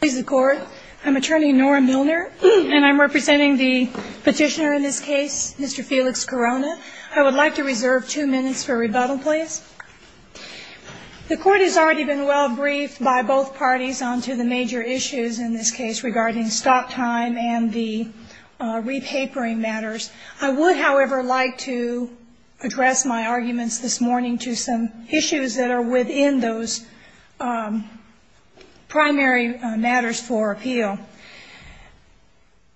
Please the court. I'm attorney Nora Milner and I'm representing the petitioner in this case, Mr. Felix-Corona. I would like to reserve two minutes for rebuttal, please. The court has already been well briefed by both parties on to the major issues in this case regarding stop time and the re-papering matters. I would, however, like to address my arguments this morning to some issues that are within those primary matters for appeal.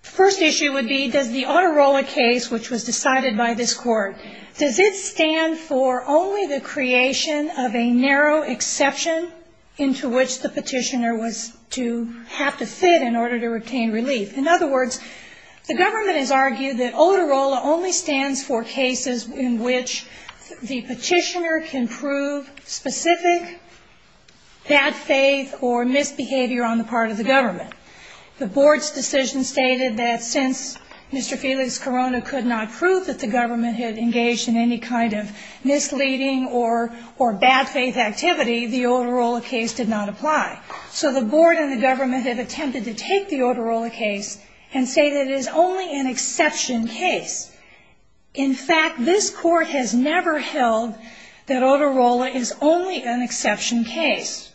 The first issue would be, does the Otorola case, which was decided by this court, does it stand for only the creation of a narrow exception into which the petitioner was to have to fit in order to retain relief? In other words, the government has argued that Otorola only stands for cases in which the petitioner can prove specific bad faith or misbehavior on the part of the government. The board's decision stated that since Mr. Felix-Corona could not prove that the government had engaged in any kind of misleading or bad faith activity, the Otorola case did not apply. So the board and the government have attempted to take the Otorola case and say that it is only an exception case. In fact, this court has never held that Otorola is only an exception case.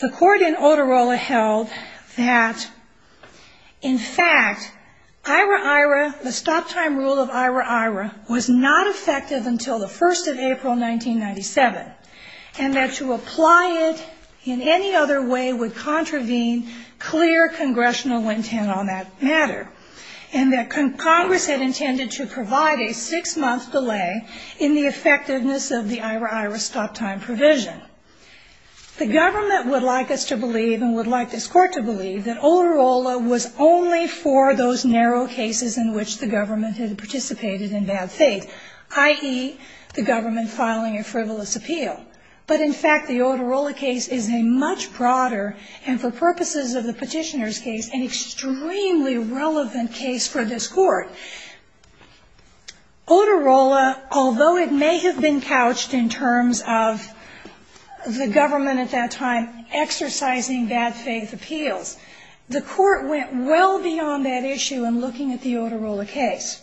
The court in Otorola held that, in fact, IRA-IRA, the stop time rule of IRA-IRA, was not effective until the 1st of April, 1997, and that to apply it in any other way would contravene clear congressional intent on that matter, and that Congress had intended to provide a six-month delay in the effectiveness of the IRA-IRA stop time provision. The government would like us to believe, and would like this court to believe, that Otorola was only for those narrow cases in which the government had participated in bad faith, i.e., the government filing a frivolous appeal. But, in fact, the Otorola case is a much broader and, for purposes of the petitioner's case, Otorola, although it may have been couched in terms of the government at that time exercising bad faith appeals, the court went well beyond that issue in looking at the Otorola case.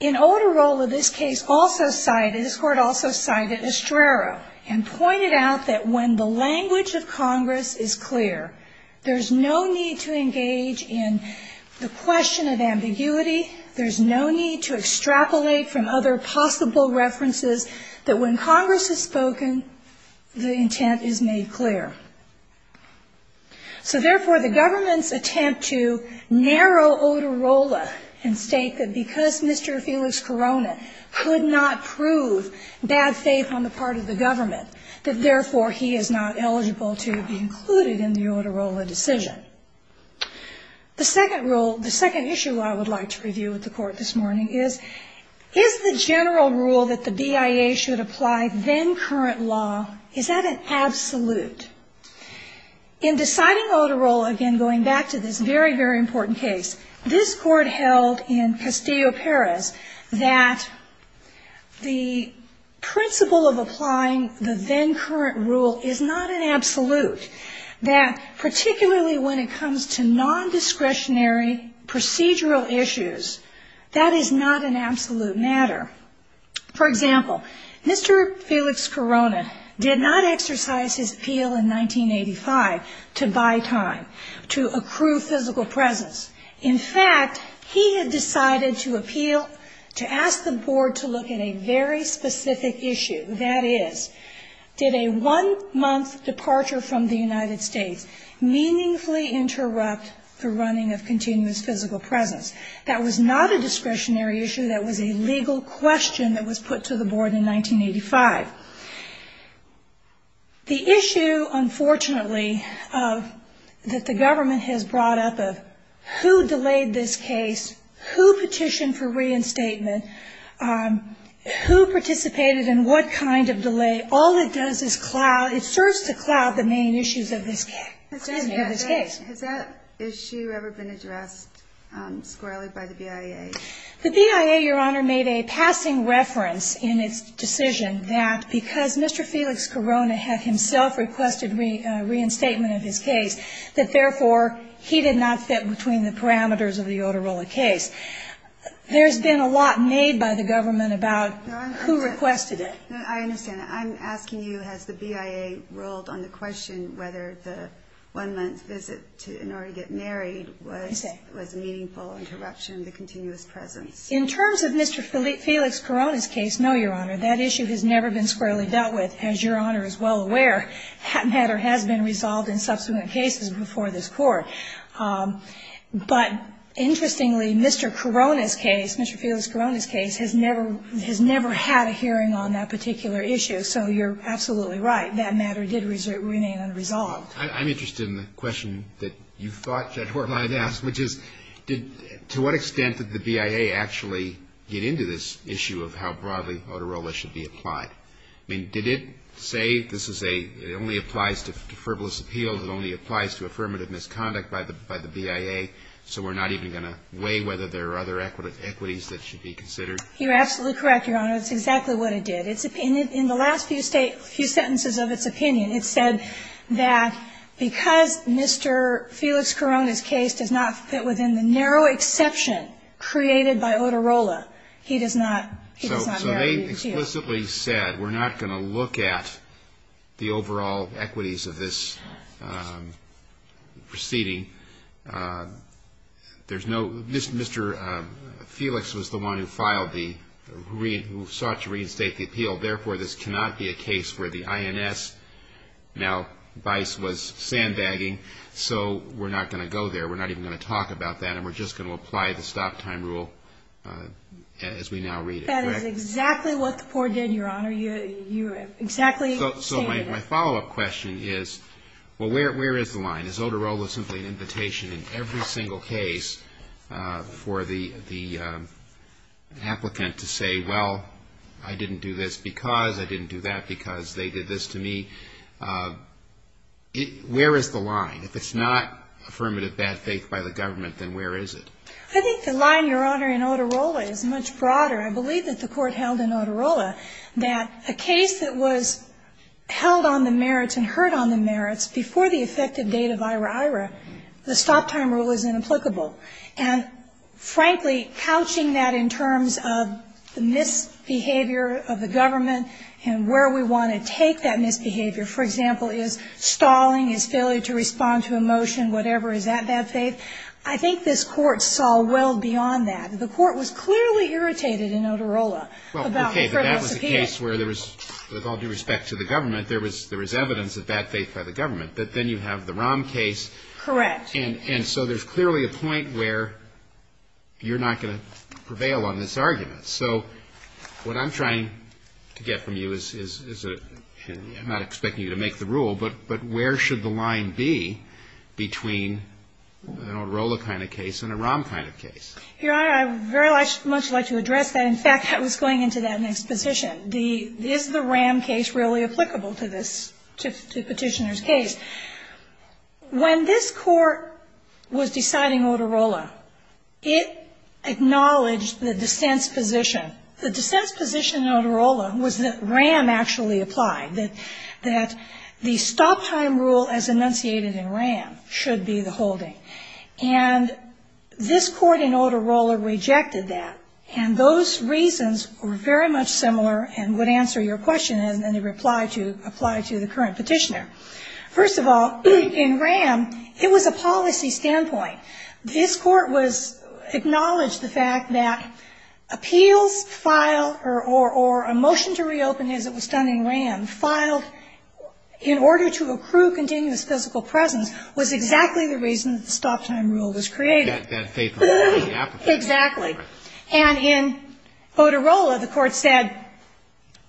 In Otorola, this case also cited, this court also cited Estrera and pointed out that when the language of Congress is clear, there's no need to engage in the question of ambiguity, there's no need to extrapolate from other possible references, that when Congress has spoken, the intent is made clear. So, therefore, the government's attempt to narrow Otorola and state that because Mr. Felix Corona could not prove bad faith on the part of the government, that, therefore, he is not eligible to be included in the Otorola decision. The second rule, the second issue I would like to review with the court this morning is, is the general rule that the BIA should apply then current law, is that an absolute? In deciding Otorola, again, going back to this very, very important case, this court held in Castillo, Paris, that the principle of applying the then current rule is not an absolute, that particularly when it comes to non-discretionary procedural issues, that is not an absolute matter. For example, Mr. Felix Corona did not exercise his appeal in 1985 to buy time, to accrue physical presence. In fact, he had decided to appeal, to ask the board to look at a very specific issue, that is, did a one-month departure from the United States meaningfully interrupt the running of continuous physical presence? That was not a discretionary issue, that was a legal question that was put to the board in 1985. The issue, unfortunately, that the government has brought up of who delayed this case, who petitioned for reinstatement, who participated and what kind of delay, all it does is cloud, it serves to cloud the main issues of this case. Has that issue ever been addressed squarely by the BIA? The BIA, Your Honor, made a passing reference in its decision that because Mr. Felix Corona had himself requested reinstatement of his case, that therefore he did not fit between the parameters of the Otorola case. There's been a lot made by the government about who requested it. I understand that. I'm asking you, has the BIA ruled on the question whether the one-month visit in order to get married was a meaningful interruption of the continuous presence? In terms of Mr. Felix Corona's case, no, Your Honor, that issue has never been squarely dealt with. As Your Honor is well aware, that matter has been resolved in subsequent cases before this Court. But interestingly, Mr. Corona's case, Mr. Felix Corona's case, has never had a hearing on that particular issue, so you're absolutely right, that matter did remain unresolved. I'm interested in the question that you thought, General, I'd ask, which is, to what extent did the BIA actually get into this issue of how broadly Otorola should be applied? I mean, did it say, this is a, it only applies to frivolous appeal, it only applies to affirmative misconduct by the BIA, so we're not even going to weigh whether there are other equities that should be considered? You're absolutely correct, Your Honor, it's exactly what it did. In the last few sentences of its opinion, it said that, because Mr. Felix Corona's case does not fit within the narrow exception created by Otorola, he does not, he does not have an appeal. So they explicitly said, we're not going to look at the overall equities of this proceeding. There's no, Mr. Felix was the one who filed the, who sought to reinstate the appeal, therefore this cannot be a case where the INS, now Vice was sandbagging, so we're not going to go there, we're not even going to talk about that, and we're just going to apply the stop-time rule as we now read it, correct? That is exactly what the poor did, Your Honor, you're exactly saying that. So my follow-up question is, well, where is the line? Is Otorola simply an invitation in every single case for the, the applicant to say, well, I didn't do this because, I didn't do that because they did this to me? Where is the line? If it's not affirmative bad faith by the government, then where is it? I think the line, Your Honor, in Otorola is much broader. I believe that the Court held in Otorola that a case that was held on the merits and heard on the merits before the effective date of ira ira, the stop-time rule is inapplicable. And frankly, couching that in terms of the misbehavior of the government and where we want to take that misbehavior, for example, is stalling, is failure to respond to a motion, whatever, is that bad faith? I think this Court saw well beyond that. The Court was clearly irritated in Otorola about the federal subpoena. Well, okay, but that was a case where there was, with all due respect to the government, there was evidence of bad faith by the government. But then you have the Rahm case. Correct. And so there's clearly a point where you're not going to prevail on this argument. So what I'm trying to get from you is, I'm not expecting you to make the rule, but where should the line be between an Otorola kind of case and a Rahm kind of case? Your Honor, I would very much like to address that. In fact, I was going into that in exposition. Is the Rahm case really applicable to this, to Petitioner's case? When this Court was deciding Otorola, it acknowledged the dissent's position. The dissent's position in Otorola was that Rahm actually applied, that the stop-time rule as enunciated in Rahm should be the holding. And this Court in Otorola rejected that. And those reasons were very much similar and would answer your question and apply to the current Petitioner. First of all, in Rahm, it was a policy standpoint. This Court was, acknowledged the fact that appeals file, or a motion to reopen as it was done in Rahm, filed in order to accrue continuous physical presence, was exactly the reason that the stop-time rule was created. Exactly. And in Otorola, the Court said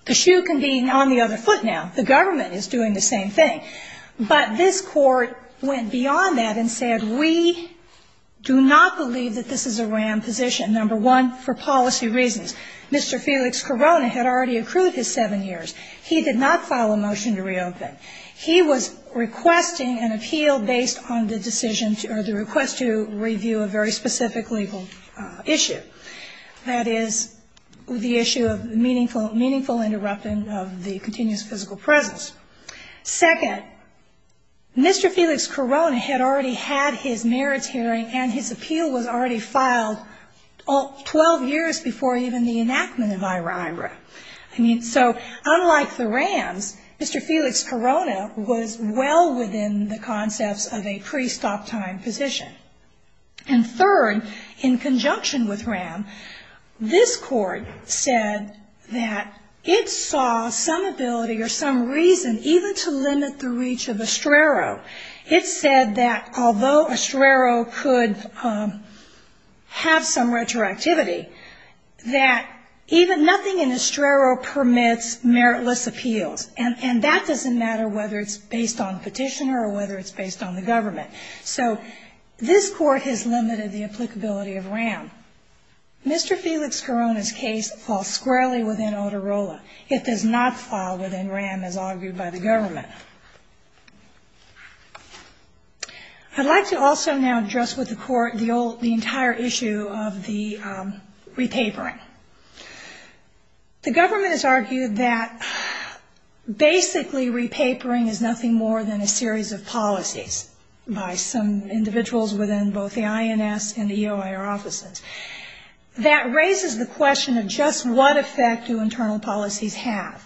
the shoe can be on the other foot now. The government is doing the same thing. But this Court went beyond that and said, we do not believe that this is a Rahm position, number one, for policy reasons. Mr. Felix Corona had already accrued his seven years. He did not file a motion to reopen. He was requesting an appeal based on the decision, or the request to review a very specific legal issue. That is, the issue of meaningful interruption of the continuous physical presence. Second, Mr. Felix Corona had already had his merits hearing and his appeal was already filed 12 years before even the enactment of IRA. So, unlike the Rahms, Mr. Felix Corona was well within the concepts of a pre-stop-time position. And third, in conjunction with Rahm, this Court said that it saw some ability or some reason even to limit the reach of Estrero. It said that although Estrero could have some retroactivity, that even nothing in Estrero permits meritless appeals. And that doesn't matter whether it's based on petition or whether it's based on the government. So, this Court has limited the applicability of Rahm. Mr. Felix Corona's case falls squarely within Otorola. It does not fall within Rahm, as argued by the government. I'd like to also now address with the Court the entire issue of the repapering. The government has argued that basically, repapering is nothing more than a series of policies. By some individuals within both the INS and the EOIR offices. That raises the question of just what effect do internal policies have?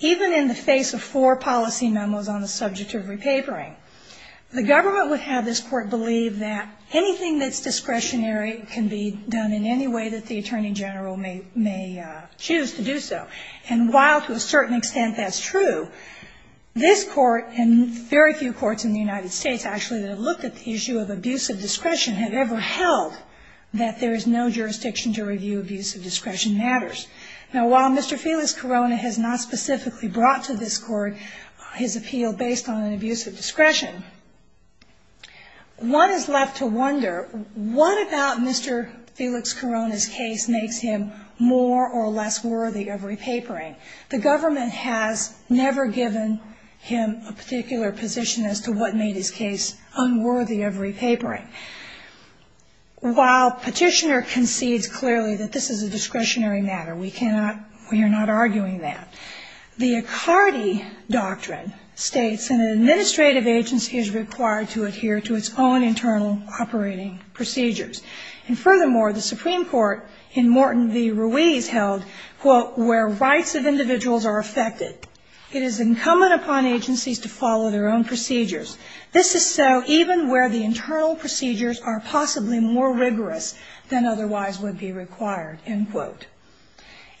Even in the face of four policy memos on the subject of repapering, the government would have this Court believe that anything that's discretionary can be done in any way that the Attorney General may choose to do so. And while, to a certain extent, that's true, this Court and very few courts in the United States, actually, have looked at the issue of abusive discretion, have ever held that there is no jurisdiction to review abusive discretion matters. Now, while Mr. Felix Corona has not specifically brought to this Court his appeal based on an abusive discretion, one is left to wonder, what about Mr. Felix Corona's case makes him more or less worthy of repapering? The government has never given him a particular position as to what made his case unworthy. While Petitioner concedes clearly that this is a discretionary matter, we cannot, we are not arguing that, the Accardi Doctrine states an administrative agency is required to adhere to its own internal operating procedures. And furthermore, the Supreme Court in Morton v. Ruiz held, quote, where rights of individuals are affected. It is incumbent upon agencies to follow their own procedures. This is so even where the internal procedures are possibly more rigorous than otherwise would be required, end quote.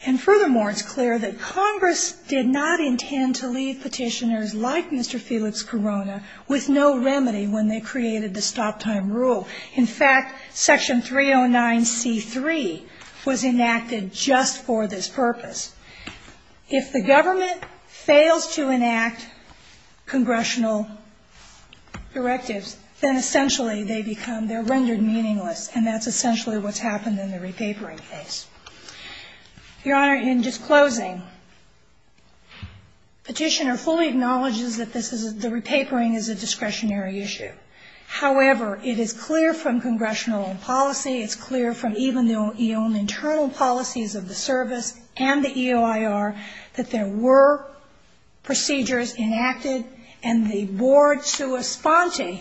And furthermore, it's clear that Congress did not intend to leave petitioners like Mr. Felix Corona with no remedy when they created the stop-time rule. In fact, Section 309C3 was enacted just for this purpose. If the government fails to enact congressional directives, then essentially they become, they're rendered meaningless, and that's essentially what's happened in the repapering case. Your Honor, in disclosing, Petitioner fully acknowledges that this is, the repapering is a discretionary issue. However, it is clear from congressional policy, it's clear from even the own internal policies of the service, and the EOIR, that there were procedures enacted, and the board sua sponte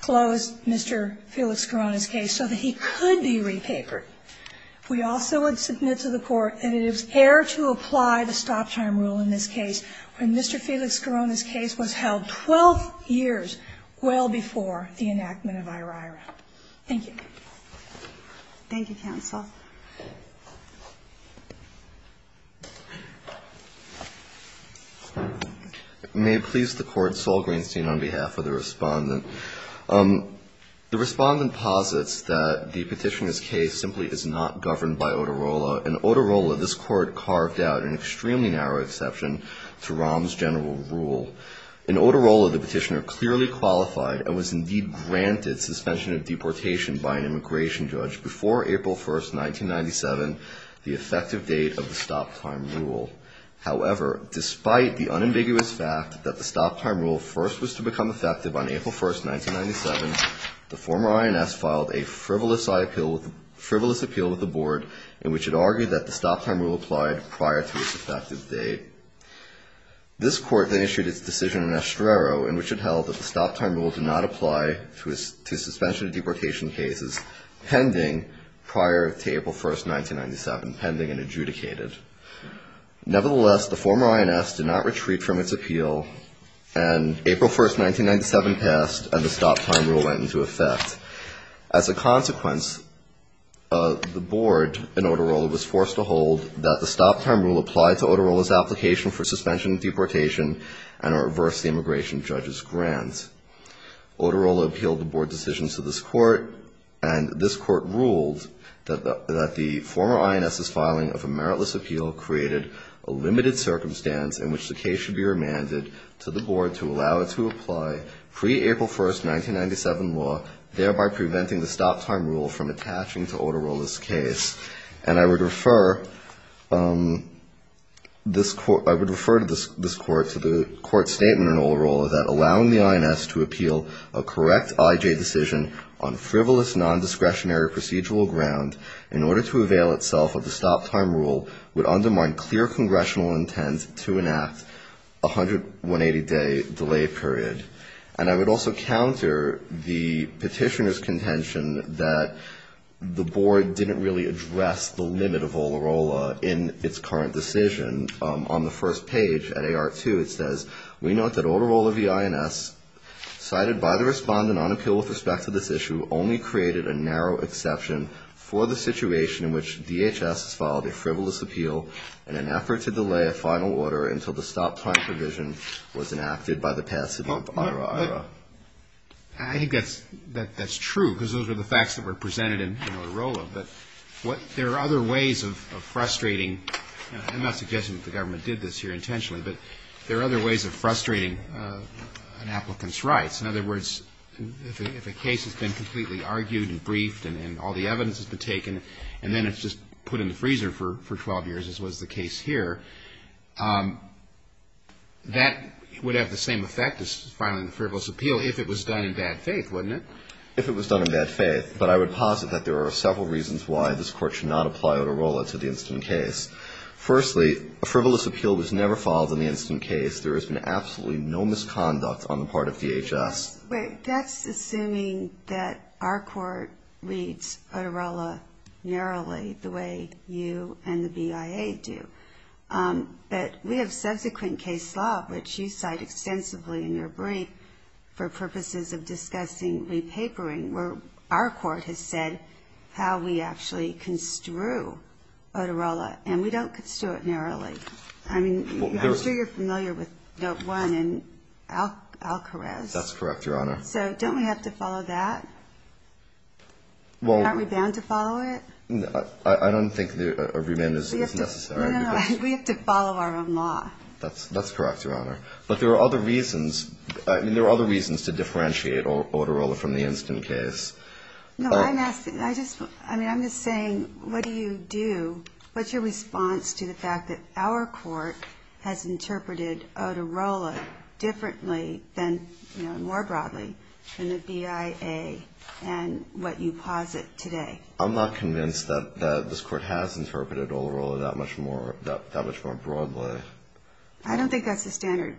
closed Mr. Felix Corona's case so that he could be repapered. We also would submit to the Court that it is fair to apply the stop-time rule in this case when Mr. Felix Corona's case was held 12 years well before the enactment of IRIRA. Thank you. Thank you, counsel. May it please the Court, Sol Greenstein on behalf of the Respondent. The Respondent posits that the Petitioner's case simply is not governed by Oterola. In Oterola, this Court carved out an extremely narrow exception to Rahm's general rule. In Oterola, the Petitioner clearly qualified and was indeed granted suspension of deportation by an immigration judge before April 1st, 1997, the effective date of the stop-time rule. However, despite the unambiguous fact that the stop-time rule first was to become effective on April 1st, 1997, the former INS filed a frivolous appeal with the board in which it argued that the stop-time rule applied prior to its effective date. This Court then issued its decision in Estrero in which it held that the stop-time rule did not apply to suspension of deportation cases pending prior to April 1st, 1997, pending and adjudicated. Nevertheless, the former INS did not retreat from its appeal and April 1st, 1997 passed and the stop-time rule went into effect. As a consequence, the board in Oterola was forced to hold that the stop-time rule applied to Oterola's application for suspension of deportation and are averse to the immigration judge's grant. Oterola appealed the board decisions to this Court and this Court ruled that the former INS's filing of a meritless appeal created a limited circumstance in which the case should be remanded to the board to allow it to apply pre-April 1st, 1997 law, thereby preventing the stop-time rule from attaching to Oterola's case. And I would refer this Court, I would refer to this Court, to the Court's statement in Oterola that allowing the INS to appeal a correct IJ decision on frivolous nondiscretionary procedural ground in order to avail itself of the stop-time rule would undermine clear congressional intent to enact a 180-day delay period. And I would also counter the petitioner's contention that the board didn't really address the limit of Oterola in its current decision. Cited by the respondent on appeal with respect to this issue only created a narrow exception for the situation in which DHS has filed a frivolous appeal in an effort to delay a final order until the stop-time provision was enacted by the past city of Oterola. I think that's true, because those are the facts that were presented in Oterola. But there are other ways of frustrating, and I'm not suggesting that the government did this here intentionally, but there are other ways of frustrating an applicant's rights. In other words, if a case has been completely argued and briefed and all the evidence has been taken and then it's just put in the freezer for 12 years, as was the case here, that would have the same effect as filing a frivolous appeal if it was done in bad faith, wouldn't it? If it was done in bad faith. But I would posit that there are several reasons why this Court should not apply Oterola to the incident case. Firstly, a frivolous appeal was never filed in the incident case. There has been absolutely no misconduct on the part of DHS. That's assuming that our Court reads Oterola narrowly the way you and the BIA do. But we have subsequent case law, which you cite extensively in your brief for purposes of discussing repapering, where our Court has said how we actually construe Oterola, and we don't construe it narrowly. I mean, I'm sure you're familiar with Note 1 and Alcarez. That's correct, Your Honor. So don't we have to follow that? Aren't we bound to follow it? I don't think a reband is necessary. No, no, we have to follow our own law. That's correct, Your Honor. But there are other reasons to differentiate Oterola from the incident case. No, I'm asking, I'm just saying, what do you do, what's your response to the fact that our Court has interpreted Oterola differently than, you know, more broadly than the BIA and what you posit today? I'm not convinced that this Court has interpreted Oterola that much more broadly. I don't think that's the standard.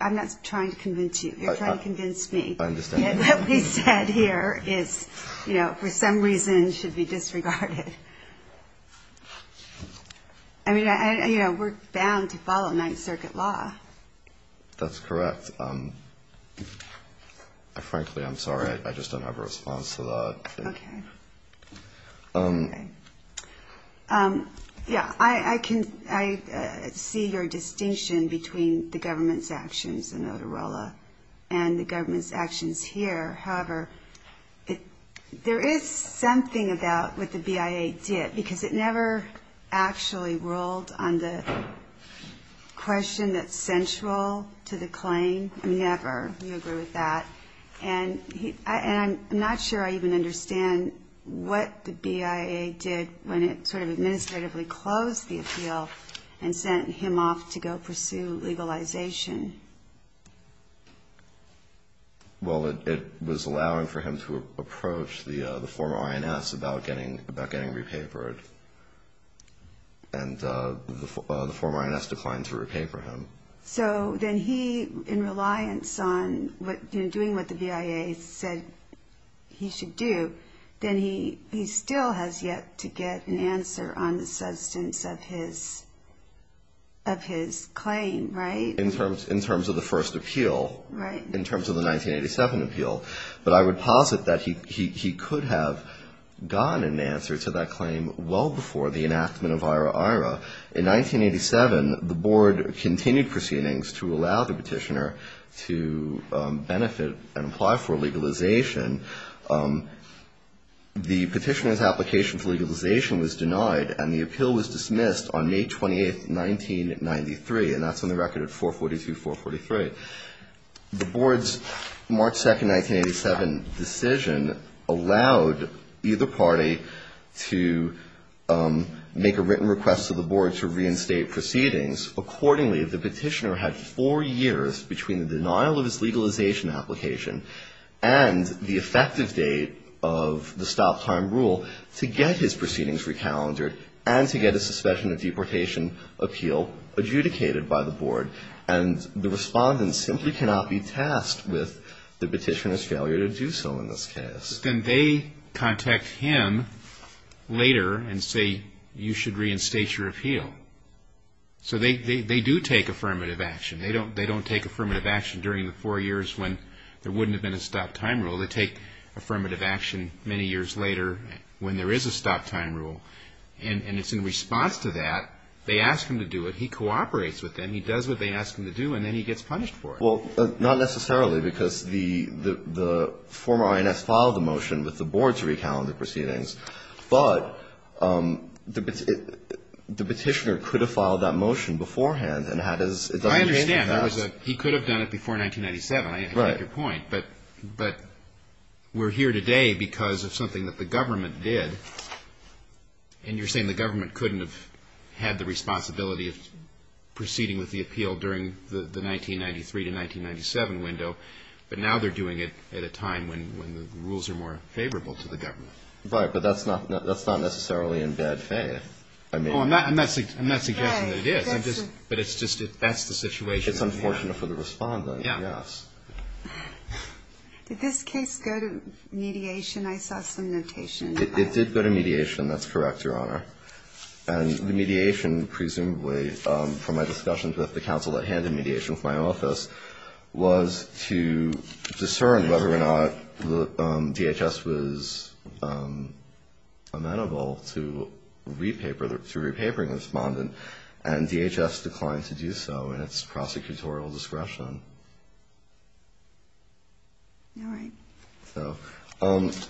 I'm not trying to convince you. You're trying to convince me. I understand. What we said here is, you know, for some reason should be disregarded. I mean, you know, we're bound to follow Ninth Circuit law. That's correct. Frankly, I'm sorry, I just don't have a response to that. Okay. Yeah, I can see your distinction between the government's actions in Oterola and the government's actions here. However, there is something about what the BIA did, because it never actually ruled on the question that's central to the claim. I mean, never, we agree with that. And I'm not sure I even understand what the BIA did when it sort of administratively closed the appeal and sent him off to go pursue legalization. Well, it was allowing for him to approach the former INS about getting repapered, and the former INS declined to repaper him. So then he, in reliance on doing what the BIA said he should do, then he still has yet to get an answer on the substance of his claim, right? In terms of the first appeal, in terms of the 1987 appeal. But I would posit that he could have gotten an answer to that claim well before the enactment of IRA-IRA. In 1987, the board continued proceedings to allow the petitioner to benefit and apply for legalization. The petitioner's application for legalization was denied, and the appeal was dismissed on May 28, 1993. And that's on the record at 442-443. The board's March 2, 1987 decision allowed either party to make a written request to the board to reinstate proceedings. Accordingly, the petitioner had four years between the denial of his legalization application and the effective date of the stop-time rule to get his proceedings recalendered and to get a suspension of deportation appeal adjudicated. And the respondent simply cannot be tasked with the petitioner's failure to do so in this case. Then they contact him later and say, you should reinstate your appeal. So they do take affirmative action. They don't take affirmative action during the four years when there wouldn't have been a stop-time rule. They take affirmative action many years later when there is a stop-time rule. And it's in response to that, they ask him to do it. He cooperates with them. He does what they ask him to do, and then he gets punished for it. Well, not necessarily, because the former INS filed the motion with the board to recalend the proceedings. But the petitioner could have filed that motion beforehand and had his... I understand. He could have done it before 1997, I take your point. But we're here today because of something that the government did. And you're saying the government couldn't have had the responsibility of proceeding with the appeal during the 1993 to 1997 window. But now they're doing it at a time when the rules are more favorable to the government. Right, but that's not necessarily in bad faith. I'm not suggesting that it is, but that's the situation. It's unfortunate for the Respondent, yes. Did this case go to mediation? I saw some notation. It did go to mediation, that's correct, Your Honor. And the mediation, presumably, from my discussions with the counsel at hand in mediation with my office, was to discern whether or not DHS was amenable to re-papering the Respondent, and DHS declined to do so in its prosecutorial discretion. All right.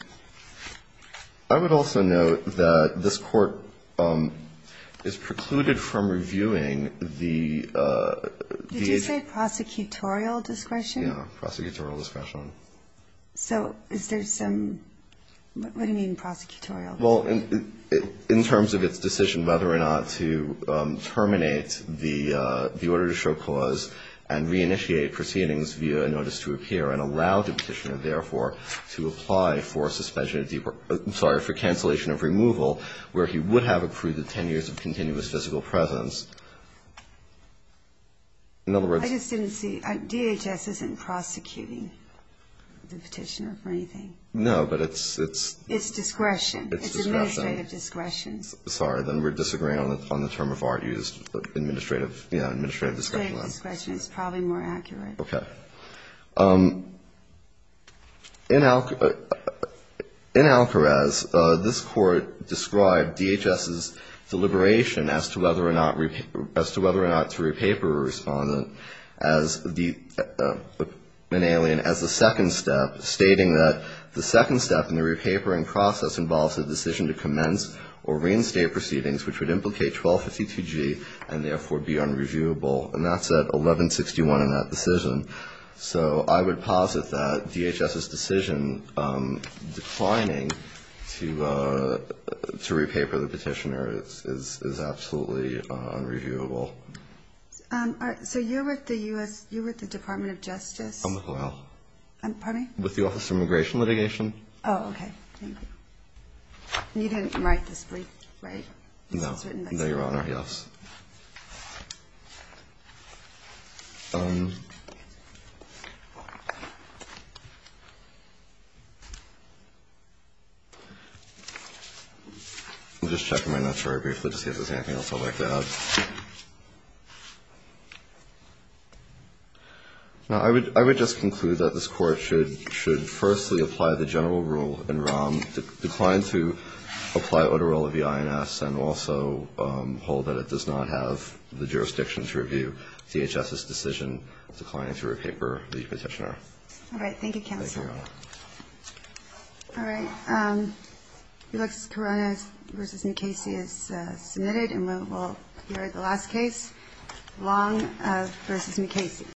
I would also note that this Court is precluded from reviewing the... Did you say prosecutorial discretion? Yeah, prosecutorial discretion. So is there some – what do you mean, prosecutorial? Well, in terms of its decision whether or not to terminate the order to show cause and re-initiate proceedings via a notice to appear and allow the Petitioner, in other words... I just didn't see. DHS isn't prosecuting the Petitioner for anything. No, but it's... It's discretion. It's administrative discretion. Sorry, then we're disagreeing on the term of art used, administrative discretion. Administrative discretion is probably more accurate. Okay. In Alcarez, this Court described DHS's deliberation as to whether or not to re-paper a Respondent as the second step, stating that the second step in the re-papering process involves a decision to commence or reinstate proceedings which would implicate 1252G and therefore be unreviewable, and that's at 1161 in that decision. So I would posit that DHS's decision declining to re-paper the Petitioner is absolutely unreviewable. So you're with the U.S. – you're with the Department of Justice? I'm with O.L. With the Office of Immigration Litigation. Oh, okay. Thank you. You didn't write this brief, right? No, Your Honor, yes. I'm just checking my notes very briefly to see if there's anything else I'd like to add. No. I would just conclude that this Court should firstly apply the general rule in ROM, decline to apply Oterola v. INS, and also hold that it does not have the jurisdiction to review DHS's decision declining to re-paper the Petitioner. All right. Thank you, counsel. Thank you, Your Honor.